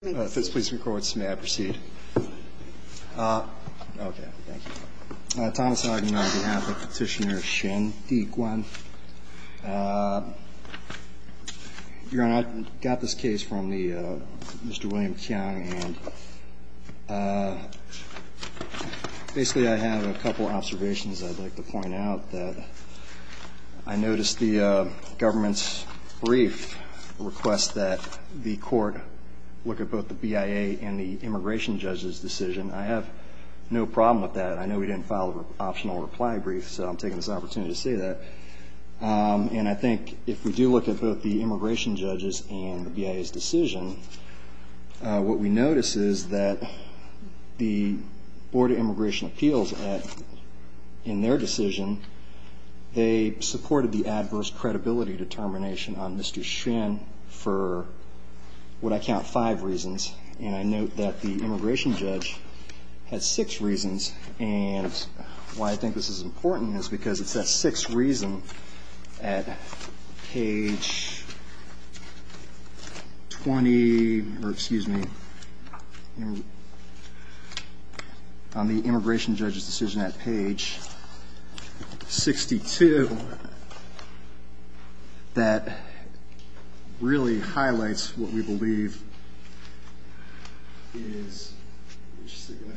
this place records may I proceed Thomas on behalf of petitioner Shin Dee Kwan you're not got this case from the mr. William Chiang and basically I have a couple observations I'd like to point out that I noticed the government's brief request that the court look at both the BIA and the immigration judges decision I have no problem with that I know we didn't follow optional reply brief so I'm taking this opportunity to say that and I think if we do look at both the immigration judges and the BIA's decision what we notice is that the Board of Immigration Appeals in their decision they supported the decision of Mr. Shin for what I count five reasons and I note that the immigration judge has six reasons and why I think this is important is because it's that six reason at page 20 or excuse me on the immigration judges decision at page 62 that really highlights what we believe is mr.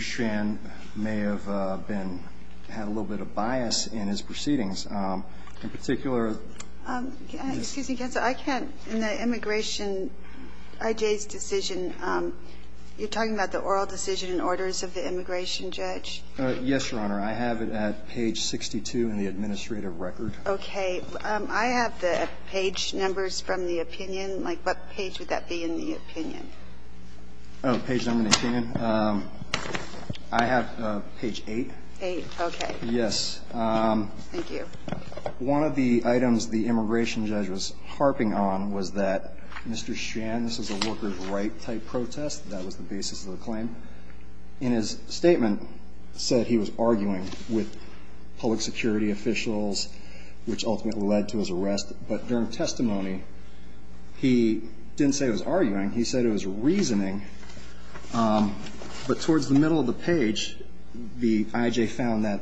Shan may have been had a little bit of bias in his proceedings in particular I can't in the immigration I J's decision you're talking about the oral decision in orders of the immigration judge yes I have it at page 62 in the administrative record okay I have the page numbers from the opinion like what page would that be in the opinion I have page 8 yes one of the items the immigration judge was harping on was that mr. Shan this is a worker's right type that was the basis of the claim in his statement said he was arguing with public security officials which ultimately led to his arrest but during testimony he didn't say was arguing he said it was reasoning but towards the middle of the page the IJ found that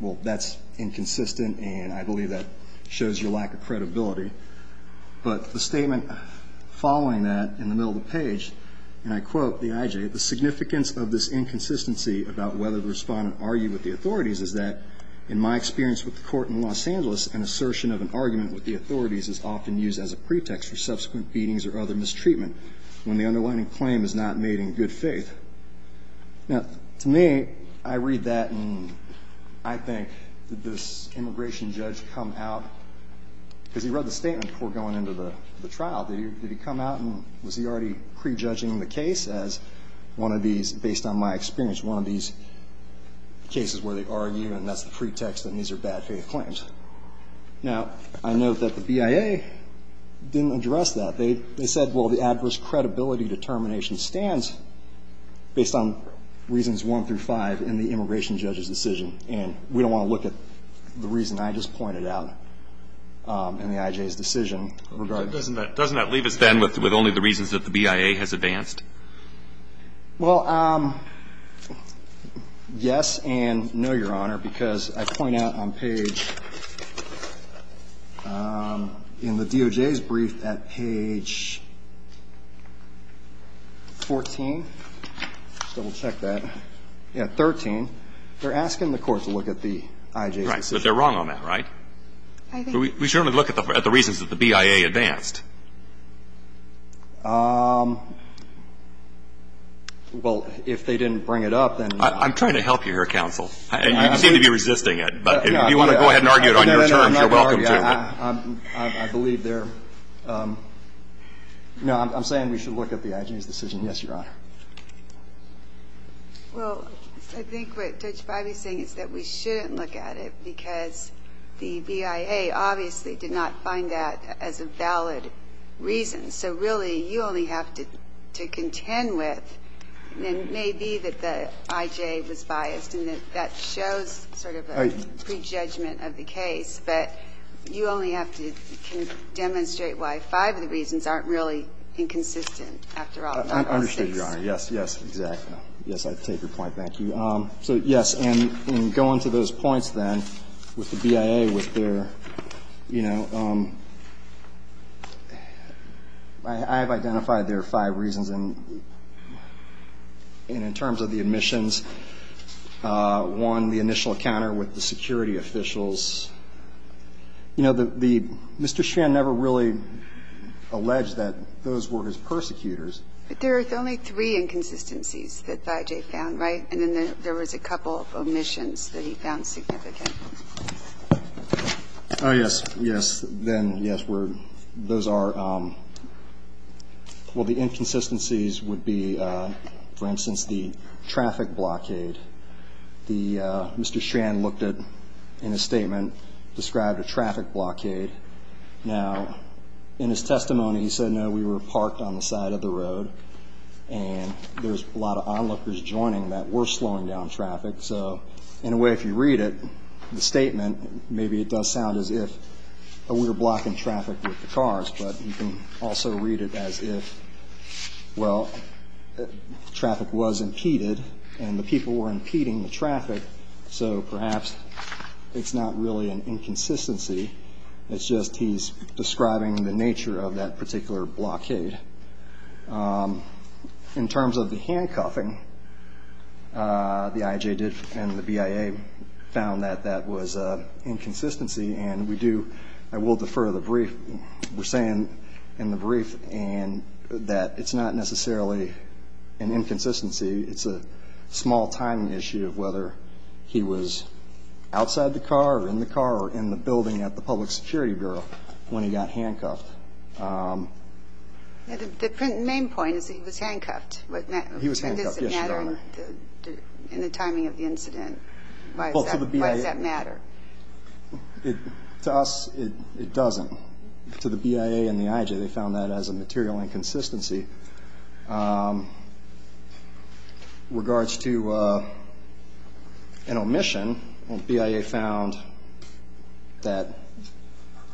well that's inconsistent and I believe that shows you lack of credibility but the statement following that in the page and I quote the IJ the significance of this inconsistency about whether the respondent argued with the authorities is that in my experience with the court in Los Angeles an assertion of an argument with the authorities is often used as a pretext for subsequent beatings or other mistreatment when the underlining claim is not made in good faith now to me I read that and I think that this immigration judge come out because he read the statement before going into the pre-judging the case as one of these based on my experience one of these cases where they argue and that's the pretext and these are bad faith claims now I note that the BIA didn't address that they said well the adverse credibility determination stands based on reasons 1 through 5 in the immigration judge's decision and we don't want to look at the reason I just pointed out in the IJ's BIA has advanced well yes and no your honor because I point out on page in the DOJ's brief at page 14 so we'll check that at 13 they're asking the court to look at the IJ but they're wrong on that right we certainly look at the reasons that the BIA advanced well if they didn't bring it up then I'm trying to help you here counsel and you seem to be resisting it but if you want to go ahead and argue it on your terms you're welcome to. I believe they're no I'm saying we should look at the IJ's decision yes your honor well I think what Judge Biby is saying is that we shouldn't look at it because the BIA obviously did not find that as a valid reason so really you only have to contend with maybe that the IJ was biased and that shows sort of a prejudgment of the case but you only have to demonstrate why 5 of the reasons aren't really inconsistent after all. I understand your honor yes yes exactly yes I take your point thank you so yes and in going to those points then with the BIA with their you know I have identified their 5 reasons and in terms of the admissions one the initial encounter with the security officials you know the Mr. Schrein never really alleged that those were his persecutors but there are only 3 inconsistencies that the IJ found right and then there was a couple of omissions that he found significant. Oh yes yes then yes those are well the inconsistencies would be for instance the traffic blockade the Mr. Schrein looked at in his statement described a traffic blockade now in his testimony he said no we were parked on the side of the road and there's a lot of onlookers joining that were slowing down traffic so in a way if you read it the statement maybe it does sound as if we were blocking traffic with the cars but you can also read it as if well traffic was impeded and the people were impeding the traffic so perhaps it's not really an inconsistency it's just he's describing the nature of that particular traffic blockade. In terms of the handcuffing the IJ did and the BIA found that that was a inconsistency and we do I will defer the brief we're saying in the brief and that it's not necessarily an inconsistency it's a small timing issue of whether he was outside the car or in the car or in the building at the public security bureau when he got handcuffed. The main point is that he was handcuffed and does it matter in the timing of the incident why does that matter? To us it doesn't to the BIA and the IJ they found that as a material inconsistency. In regards to an omission the BIA found that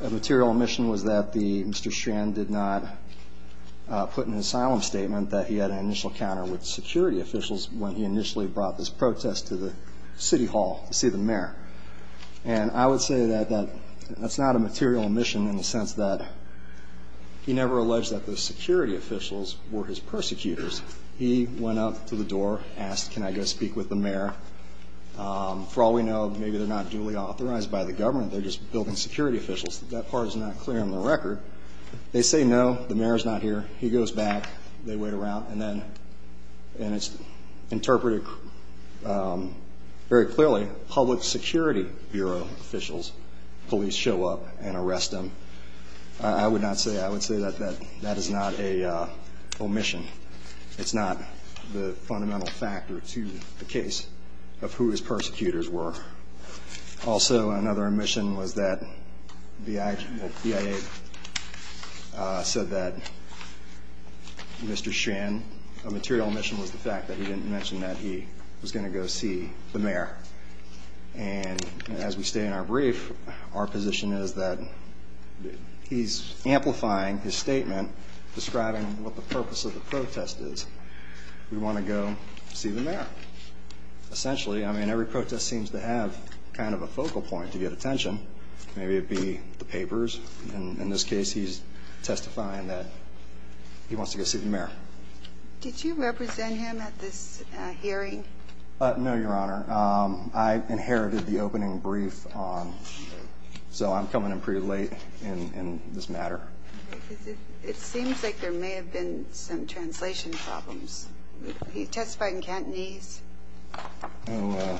a material omission was that Mr. Strand did not put an asylum statement that he had an initial encounter with security officials when he initially brought this protest to the city hall to see the mayor and I would say that that's not a material omission in the sense that he never alleged that the security officials were his persecutors. He went up to the door asked can I go speak with the mayor for all we know maybe they're not duly authorized by the government they're just building security officials that part is not clear on the record they say no the mayor is not here he goes back they wait around and then and it's interpreted very clearly public security bureau officials police show up and arrest him. I would not say I would say that that that is not a omission it's not the fundamental factor to the case of who his persecutors were also another omission was that the BIA said that Mr. Strand a material omission was the fact that he didn't mention that he was going to go see the mayor. And as we stay in our brief our position is that he's amplifying his statement describing what the purpose of the protest is we want to go see the mayor essentially I mean every protest seems to have kind of a focal point to get attention maybe it be the papers and in this case he's testifying that he wants to go see the mayor. Did you represent him at this hearing? No your honor I inherited the opening brief on so I'm coming in pretty late in this matter. It seems like there may have been some translation problems he testified in Cantonese. Let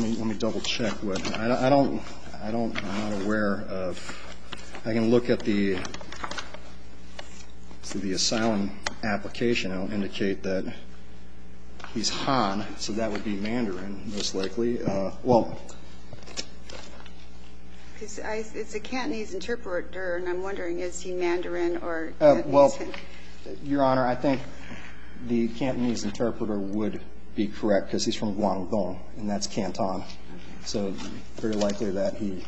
me double check what I don't I don't I'm not aware of I can look at the the asylum application I'll indicate that he's Han so that would be Mandarin most likely well. It's a Cantonese interpreter and I'm wondering is he Mandarin or well your honor I think the Cantonese interpreter would be correct because he's from Guangdong and that's Canton so very likely that he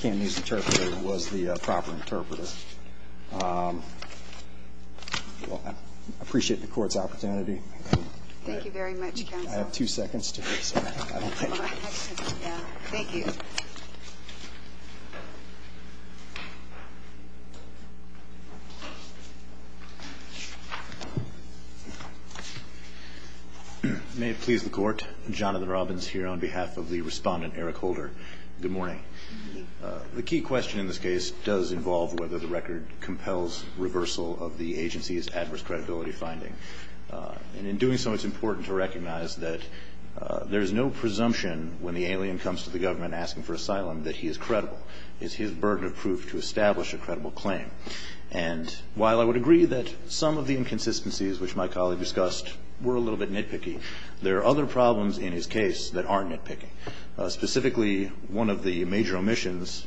can use interpreter was the proper interpreter. Well I appreciate the court's opportunity. Thank you very much I have two seconds. Thank you. May it please the court Jonathan Robbins here on behalf of the respondent Eric Holder good morning. The key question in this case does involve whether the record compels reversal of the agency's adverse credibility finding. And in doing so it's important to recognize that there is no presumption when the alien comes to the government asking for asylum that he is credible is his burden of proof to establish a credible claim. And while I would agree that some of the inconsistencies which my colleague discussed were a little bit nitpicky. There are other problems in his case that aren't nitpicking. Specifically one of the major omissions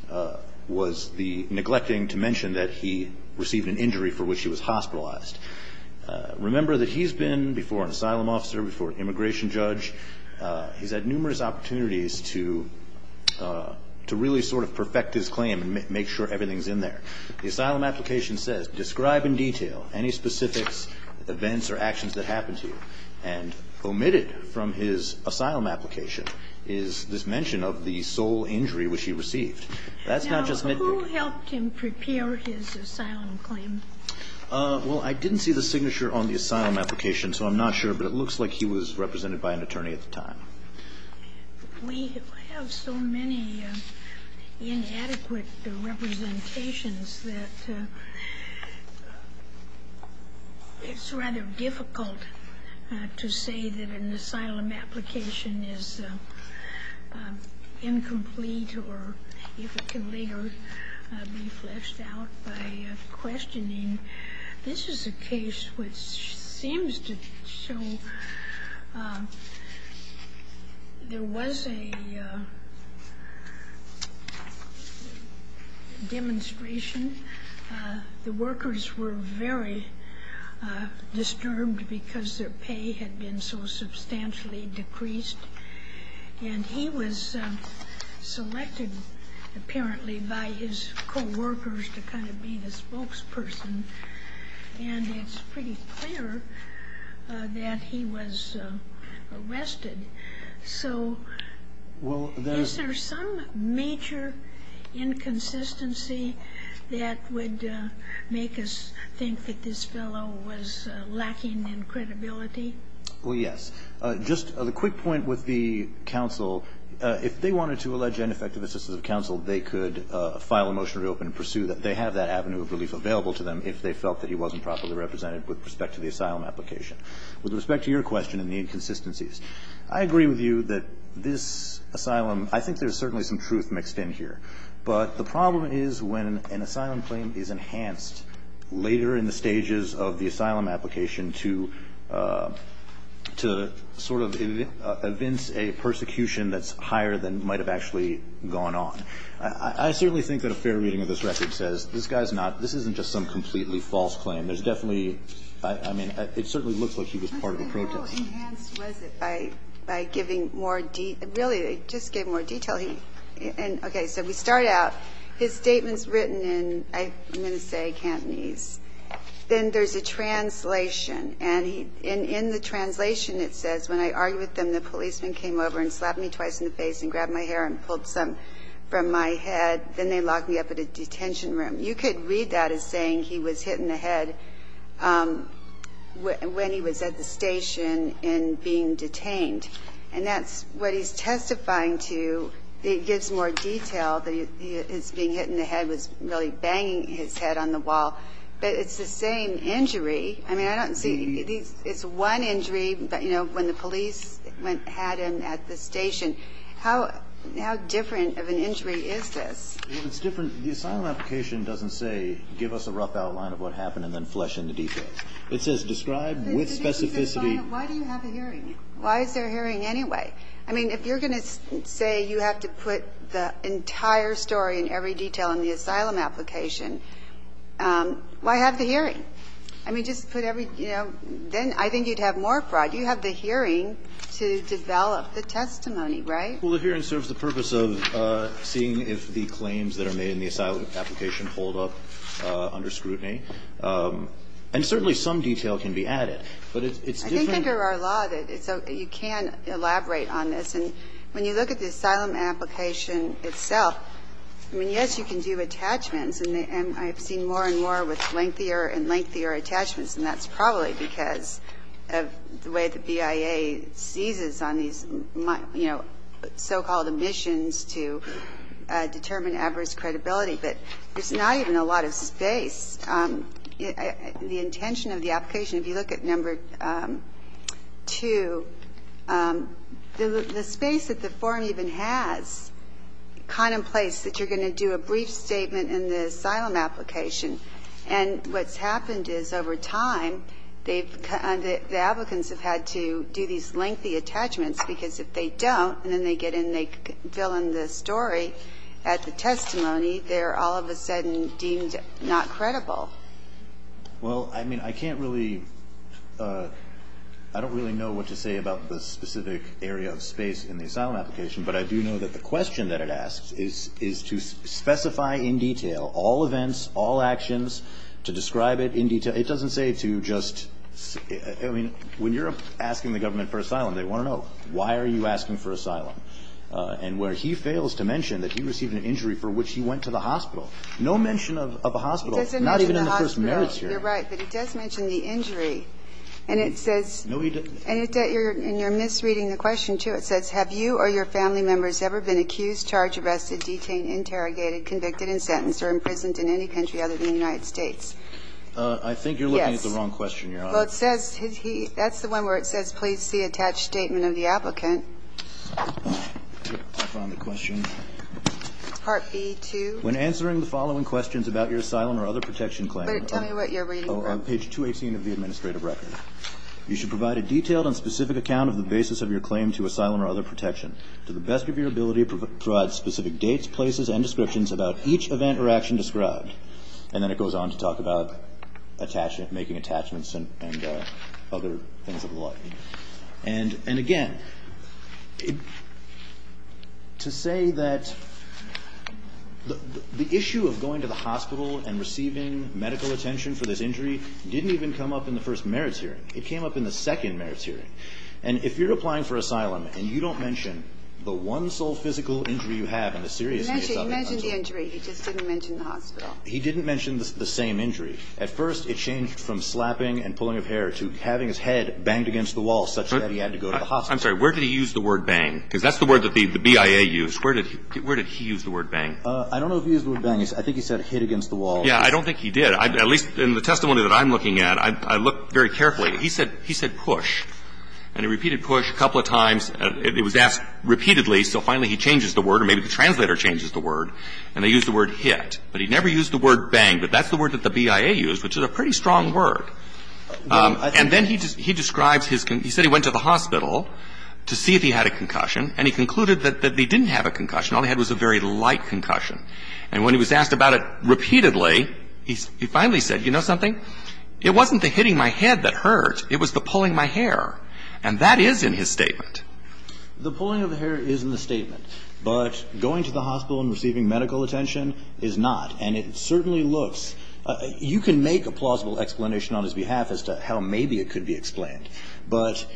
was the neglecting to mention that he received an injury for which he was hospitalized. Remember that he's been before an asylum officer before immigration judge. He's had numerous opportunities to to really sort of perfect his claim and make sure everything's in there. The asylum application says describe in detail any specifics events or actions that happened to you. And omitted from his asylum application is this mention of the sole injury which he received. That's not just nitpicking. Who helped him prepare his asylum claim? Well I didn't see the signature on the asylum application so I'm not sure but it looks like he was represented by an attorney at the time. We have so many inadequate representations that it's rather difficult to say that an asylum application is incomplete or if it can later be fleshed out by questioning. This is a case which seems to show there was a demonstration. The workers were very disturbed because their pay had been so substantially decreased. And he was selected apparently by his co-workers to kind of be the spokesperson. And it's pretty clear that he was arrested. So is there some major inconsistency that would make us think that this fellow was lacking in credibility? Well yes. Just a quick point with the counsel. If they wanted to allege ineffective assistance of counsel, they could file a motion to reopen and pursue that. They have that avenue of relief available to them if they felt that he wasn't properly represented with respect to the asylum application. With respect to your question and the inconsistencies, I agree with you that this asylum, I think there's certainly some truth mixed in here. But the problem is when an asylum claim is enhanced later in the stages of the asylum application to sort of evince a persecution that's higher than might have actually gone on. I certainly think that a fair reading of this record says this guy's not, this isn't just some completely false claim. There's definitely, I mean, it certainly looks like he was part of a protest. How enhanced was it by giving more detail? Really, just give more detail. Okay. So we start out. His statement's written in, I'm going to say Cantonese. Then there's a translation. And in the translation it says, when I argued with them, the policeman came over and slapped me twice in the face and grabbed my hair and pulled some from my head. Then they locked me up at a detention room. You could read that as saying he was hit in the head when he was at the station and being detained. And that's what he's testifying to. It gives more detail that his being hit in the head was really banging his head on the wall. But it's the same injury. I mean, I don't see these as one injury, but, you know, when the police had him at the station. How different of an injury is this? Well, it's different. The asylum application doesn't say give us a rough outline of what happened and then flesh in the details. It says describe with specificity. Why do you have a hearing? Why is there a hearing anyway? I mean, if you're going to say you have to put the entire story and every detail in the asylum application, why have the hearing? I mean, just put every, you know, then I think you'd have more fraud. You have the hearing to develop the testimony, right? Well, the hearing serves the purpose of seeing if the claims that are made in the asylum application hold up under scrutiny. And certainly some detail can be added. But it's different. I think under our law, you can elaborate on this. And when you look at the asylum application itself, I mean, yes, you can do attachments. And I've seen more and more with lengthier and lengthier attachments, and that's probably because of the way the BIA seizes on these, you know, so-called emissions to determine adverse credibility. But there's not even a lot of space. The intention of the application, if you look at number 2, the space that the form even has contemplates that you're going to do a brief statement in the asylum application. And what's happened is over time, the applicants have had to do these lengthy attachments because if they don't and then they get in and they fill in the story at the testimony, they're all of a sudden deemed not credible. Well, I mean, I can't really – I don't really know what to say about the specific area of space in the asylum application. But I do know that the question that it asks is to specify in detail all events, all actions, to describe it in detail. It doesn't say to just – I mean, when you're asking the government for asylum, they want to know, why are you asking for asylum? And where he fails to mention that he received an injury for which he went to the hospital, no mention of a hospital, not even in the first merits here. It doesn't mention the hospital. You're right. But it does mention the injury. And it says – No, he doesn't. And you're misreading the question, too. It says, Have you or your family members ever been accused, charged, arrested, detained, interrogated, convicted, and sentenced or imprisoned in any country other than the United States? Yes. I think you're looking at the wrong question, Your Honor. Well, it says – that's the one where it says, please see attached statement of the applicant. I found the question. Part B-2. When answering the following questions about your asylum or other protection claim – Wait. Tell me what you're reading from. Page 218 of the administrative record. You should provide a detailed and specific account of the basis of your claim to asylum or other protection to the best of your ability to provide specific dates, places, and descriptions about each event or action described. And then it goes on to talk about making attachments and other things of the like. And again, to say that the issue of going to the hospital and receiving medical attention for this injury didn't even come up in the first merits hearing. It came up in the second merits hearing. And if you're applying for asylum and you don't mention the one sole physical injury you have and the seriousness of it – He mentioned the injury. He just didn't mention the hospital. He didn't mention the same injury. At first, it changed from slapping and pulling of hair to having his head banged against the wall such that he had to go to the hospital. I'm sorry. Where did he use the word bang? Because that's the word that the BIA used. Where did he use the word bang? I don't know if he used the word bang. I think he said hit against the wall. I don't think he did. At least in the testimony that I'm looking at, I looked very carefully. He said push. And he repeated push a couple of times. It was asked repeatedly, so finally he changes the word, or maybe the translator changes the word. And they used the word hit. But he never used the word bang. But that's the word that the BIA used, which is a pretty strong word. And then he describes his – he said he went to the hospital to see if he had a concussion, and he concluded that he didn't have a concussion. All he had was a very light concussion. And when he was asked about it repeatedly, he finally said, you know something? It wasn't the hitting my head that hurt. It was the pulling my hair. And that is in his statement. The pulling of the hair is in the statement. But going to the hospital and receiving medical attention is not. And it certainly looks – you can make a plausible explanation on his behalf as to how maybe it could be explained. But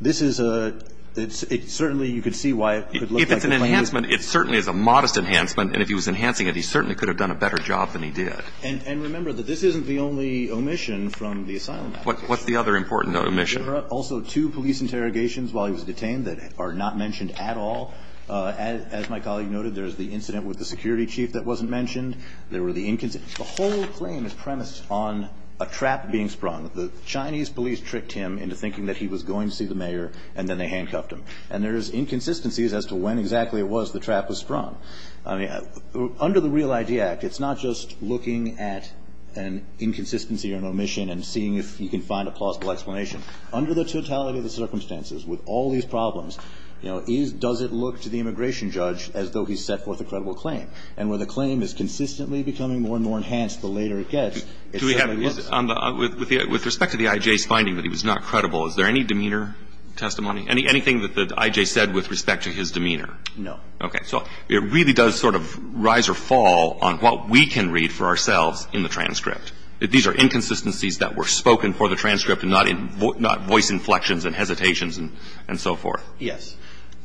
this is a – it's – it certainly – you could see why it could look like the plan was – If it's an enhancement, it certainly is a modest enhancement. And if he was enhancing it, he certainly could have done a better job than he did. And remember that this isn't the only omission from the asylum act. What's the other important omission? There are also two police interrogations while he was detained that are not mentioned at all. As my colleague noted, there's the incident with the security chief that wasn't mentioned. There were the – the whole claim is premised on a trap being sprung. The Chinese police tricked him into thinking that he was going to see the mayor, and then they handcuffed him. And there's inconsistencies as to when exactly it was the trap was sprung. I mean, under the Real ID Act, it's not just looking at an inconsistency or an omission and seeing if you can find a plausible explanation. Under the totality of the circumstances with all these problems, you know, does it look to the immigration judge as though he's set forth a credible claim? And when the claim is consistently becoming more and more enhanced, the later it gets, it certainly looks – Do we have – on the – with respect to the I.J.'s finding that he was not credible, is there any demeanor testimony? Anything that the I.J. said with respect to his demeanor? No. Okay. So it really does sort of rise or fall on what we can read for ourselves in the transcript. These are inconsistencies that were spoken for the transcript and not voice inflections and hesitations and so forth. Yes.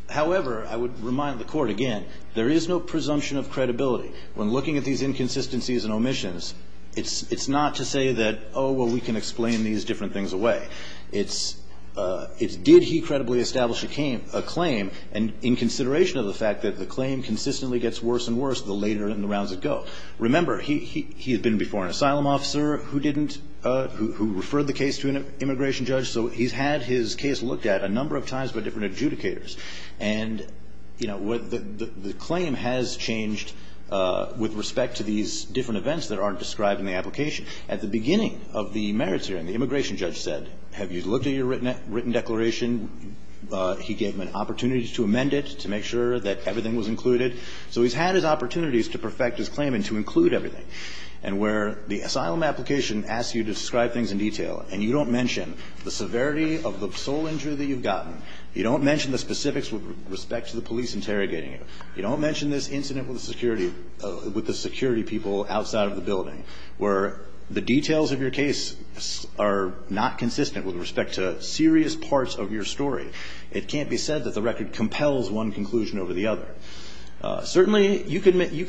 However, I would remind the Court again, there is no presumption of credibility. When looking at these inconsistencies and omissions, it's not to say that, oh, well, we can explain these different things away. It's – it's did he credibly establish a claim in consideration of the fact that the claim consistently gets worse and worse the later in the rounds it go. Remember, he had been before an asylum officer who didn't – who referred the case to an immigration judge, so he's had his case looked at a number of times by different adjudicators. And, you know, the claim has changed with respect to these different events that aren't described in the application. At the beginning of the merits hearing, the immigration judge said, have you looked at your written declaration? He gave him an opportunity to amend it, to make sure that everything was included. So he's had his opportunities to perfect his claim and to include everything. And where the asylum application asks you to describe things in detail and you don't mention the severity of the sole injury that you've gotten, you don't mention the specifics with respect to the police interrogating you, you don't mention this incident with the security – with the security people outside of the building where the details of your case are not consistent with respect to serious parts of your story. It can't be said that the record compels one conclusion over the other. Certainly, you can – you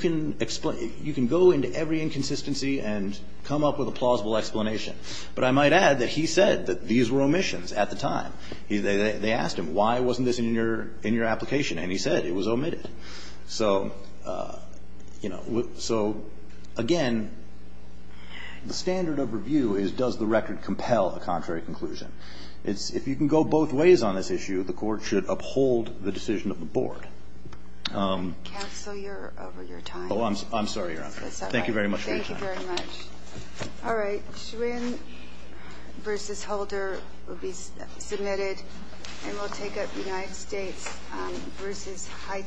can go into every inconsistency and come up with a plausible explanation. But I might add that he said that these were omissions at the time. They asked him, why wasn't this in your – in your application? And he said it was omitted. So, you know, so again, the standard of review is does the record compel a contrary conclusion? It's – if you can go both ways on this issue, the Court should uphold the decision of the Board. Counsel, you're over your time. Oh, I'm sorry, Your Honor. Thank you very much for your time. Thank you very much. All right, Schwinn v. Holder will be submitted, and we'll take up the United States v. Haiti.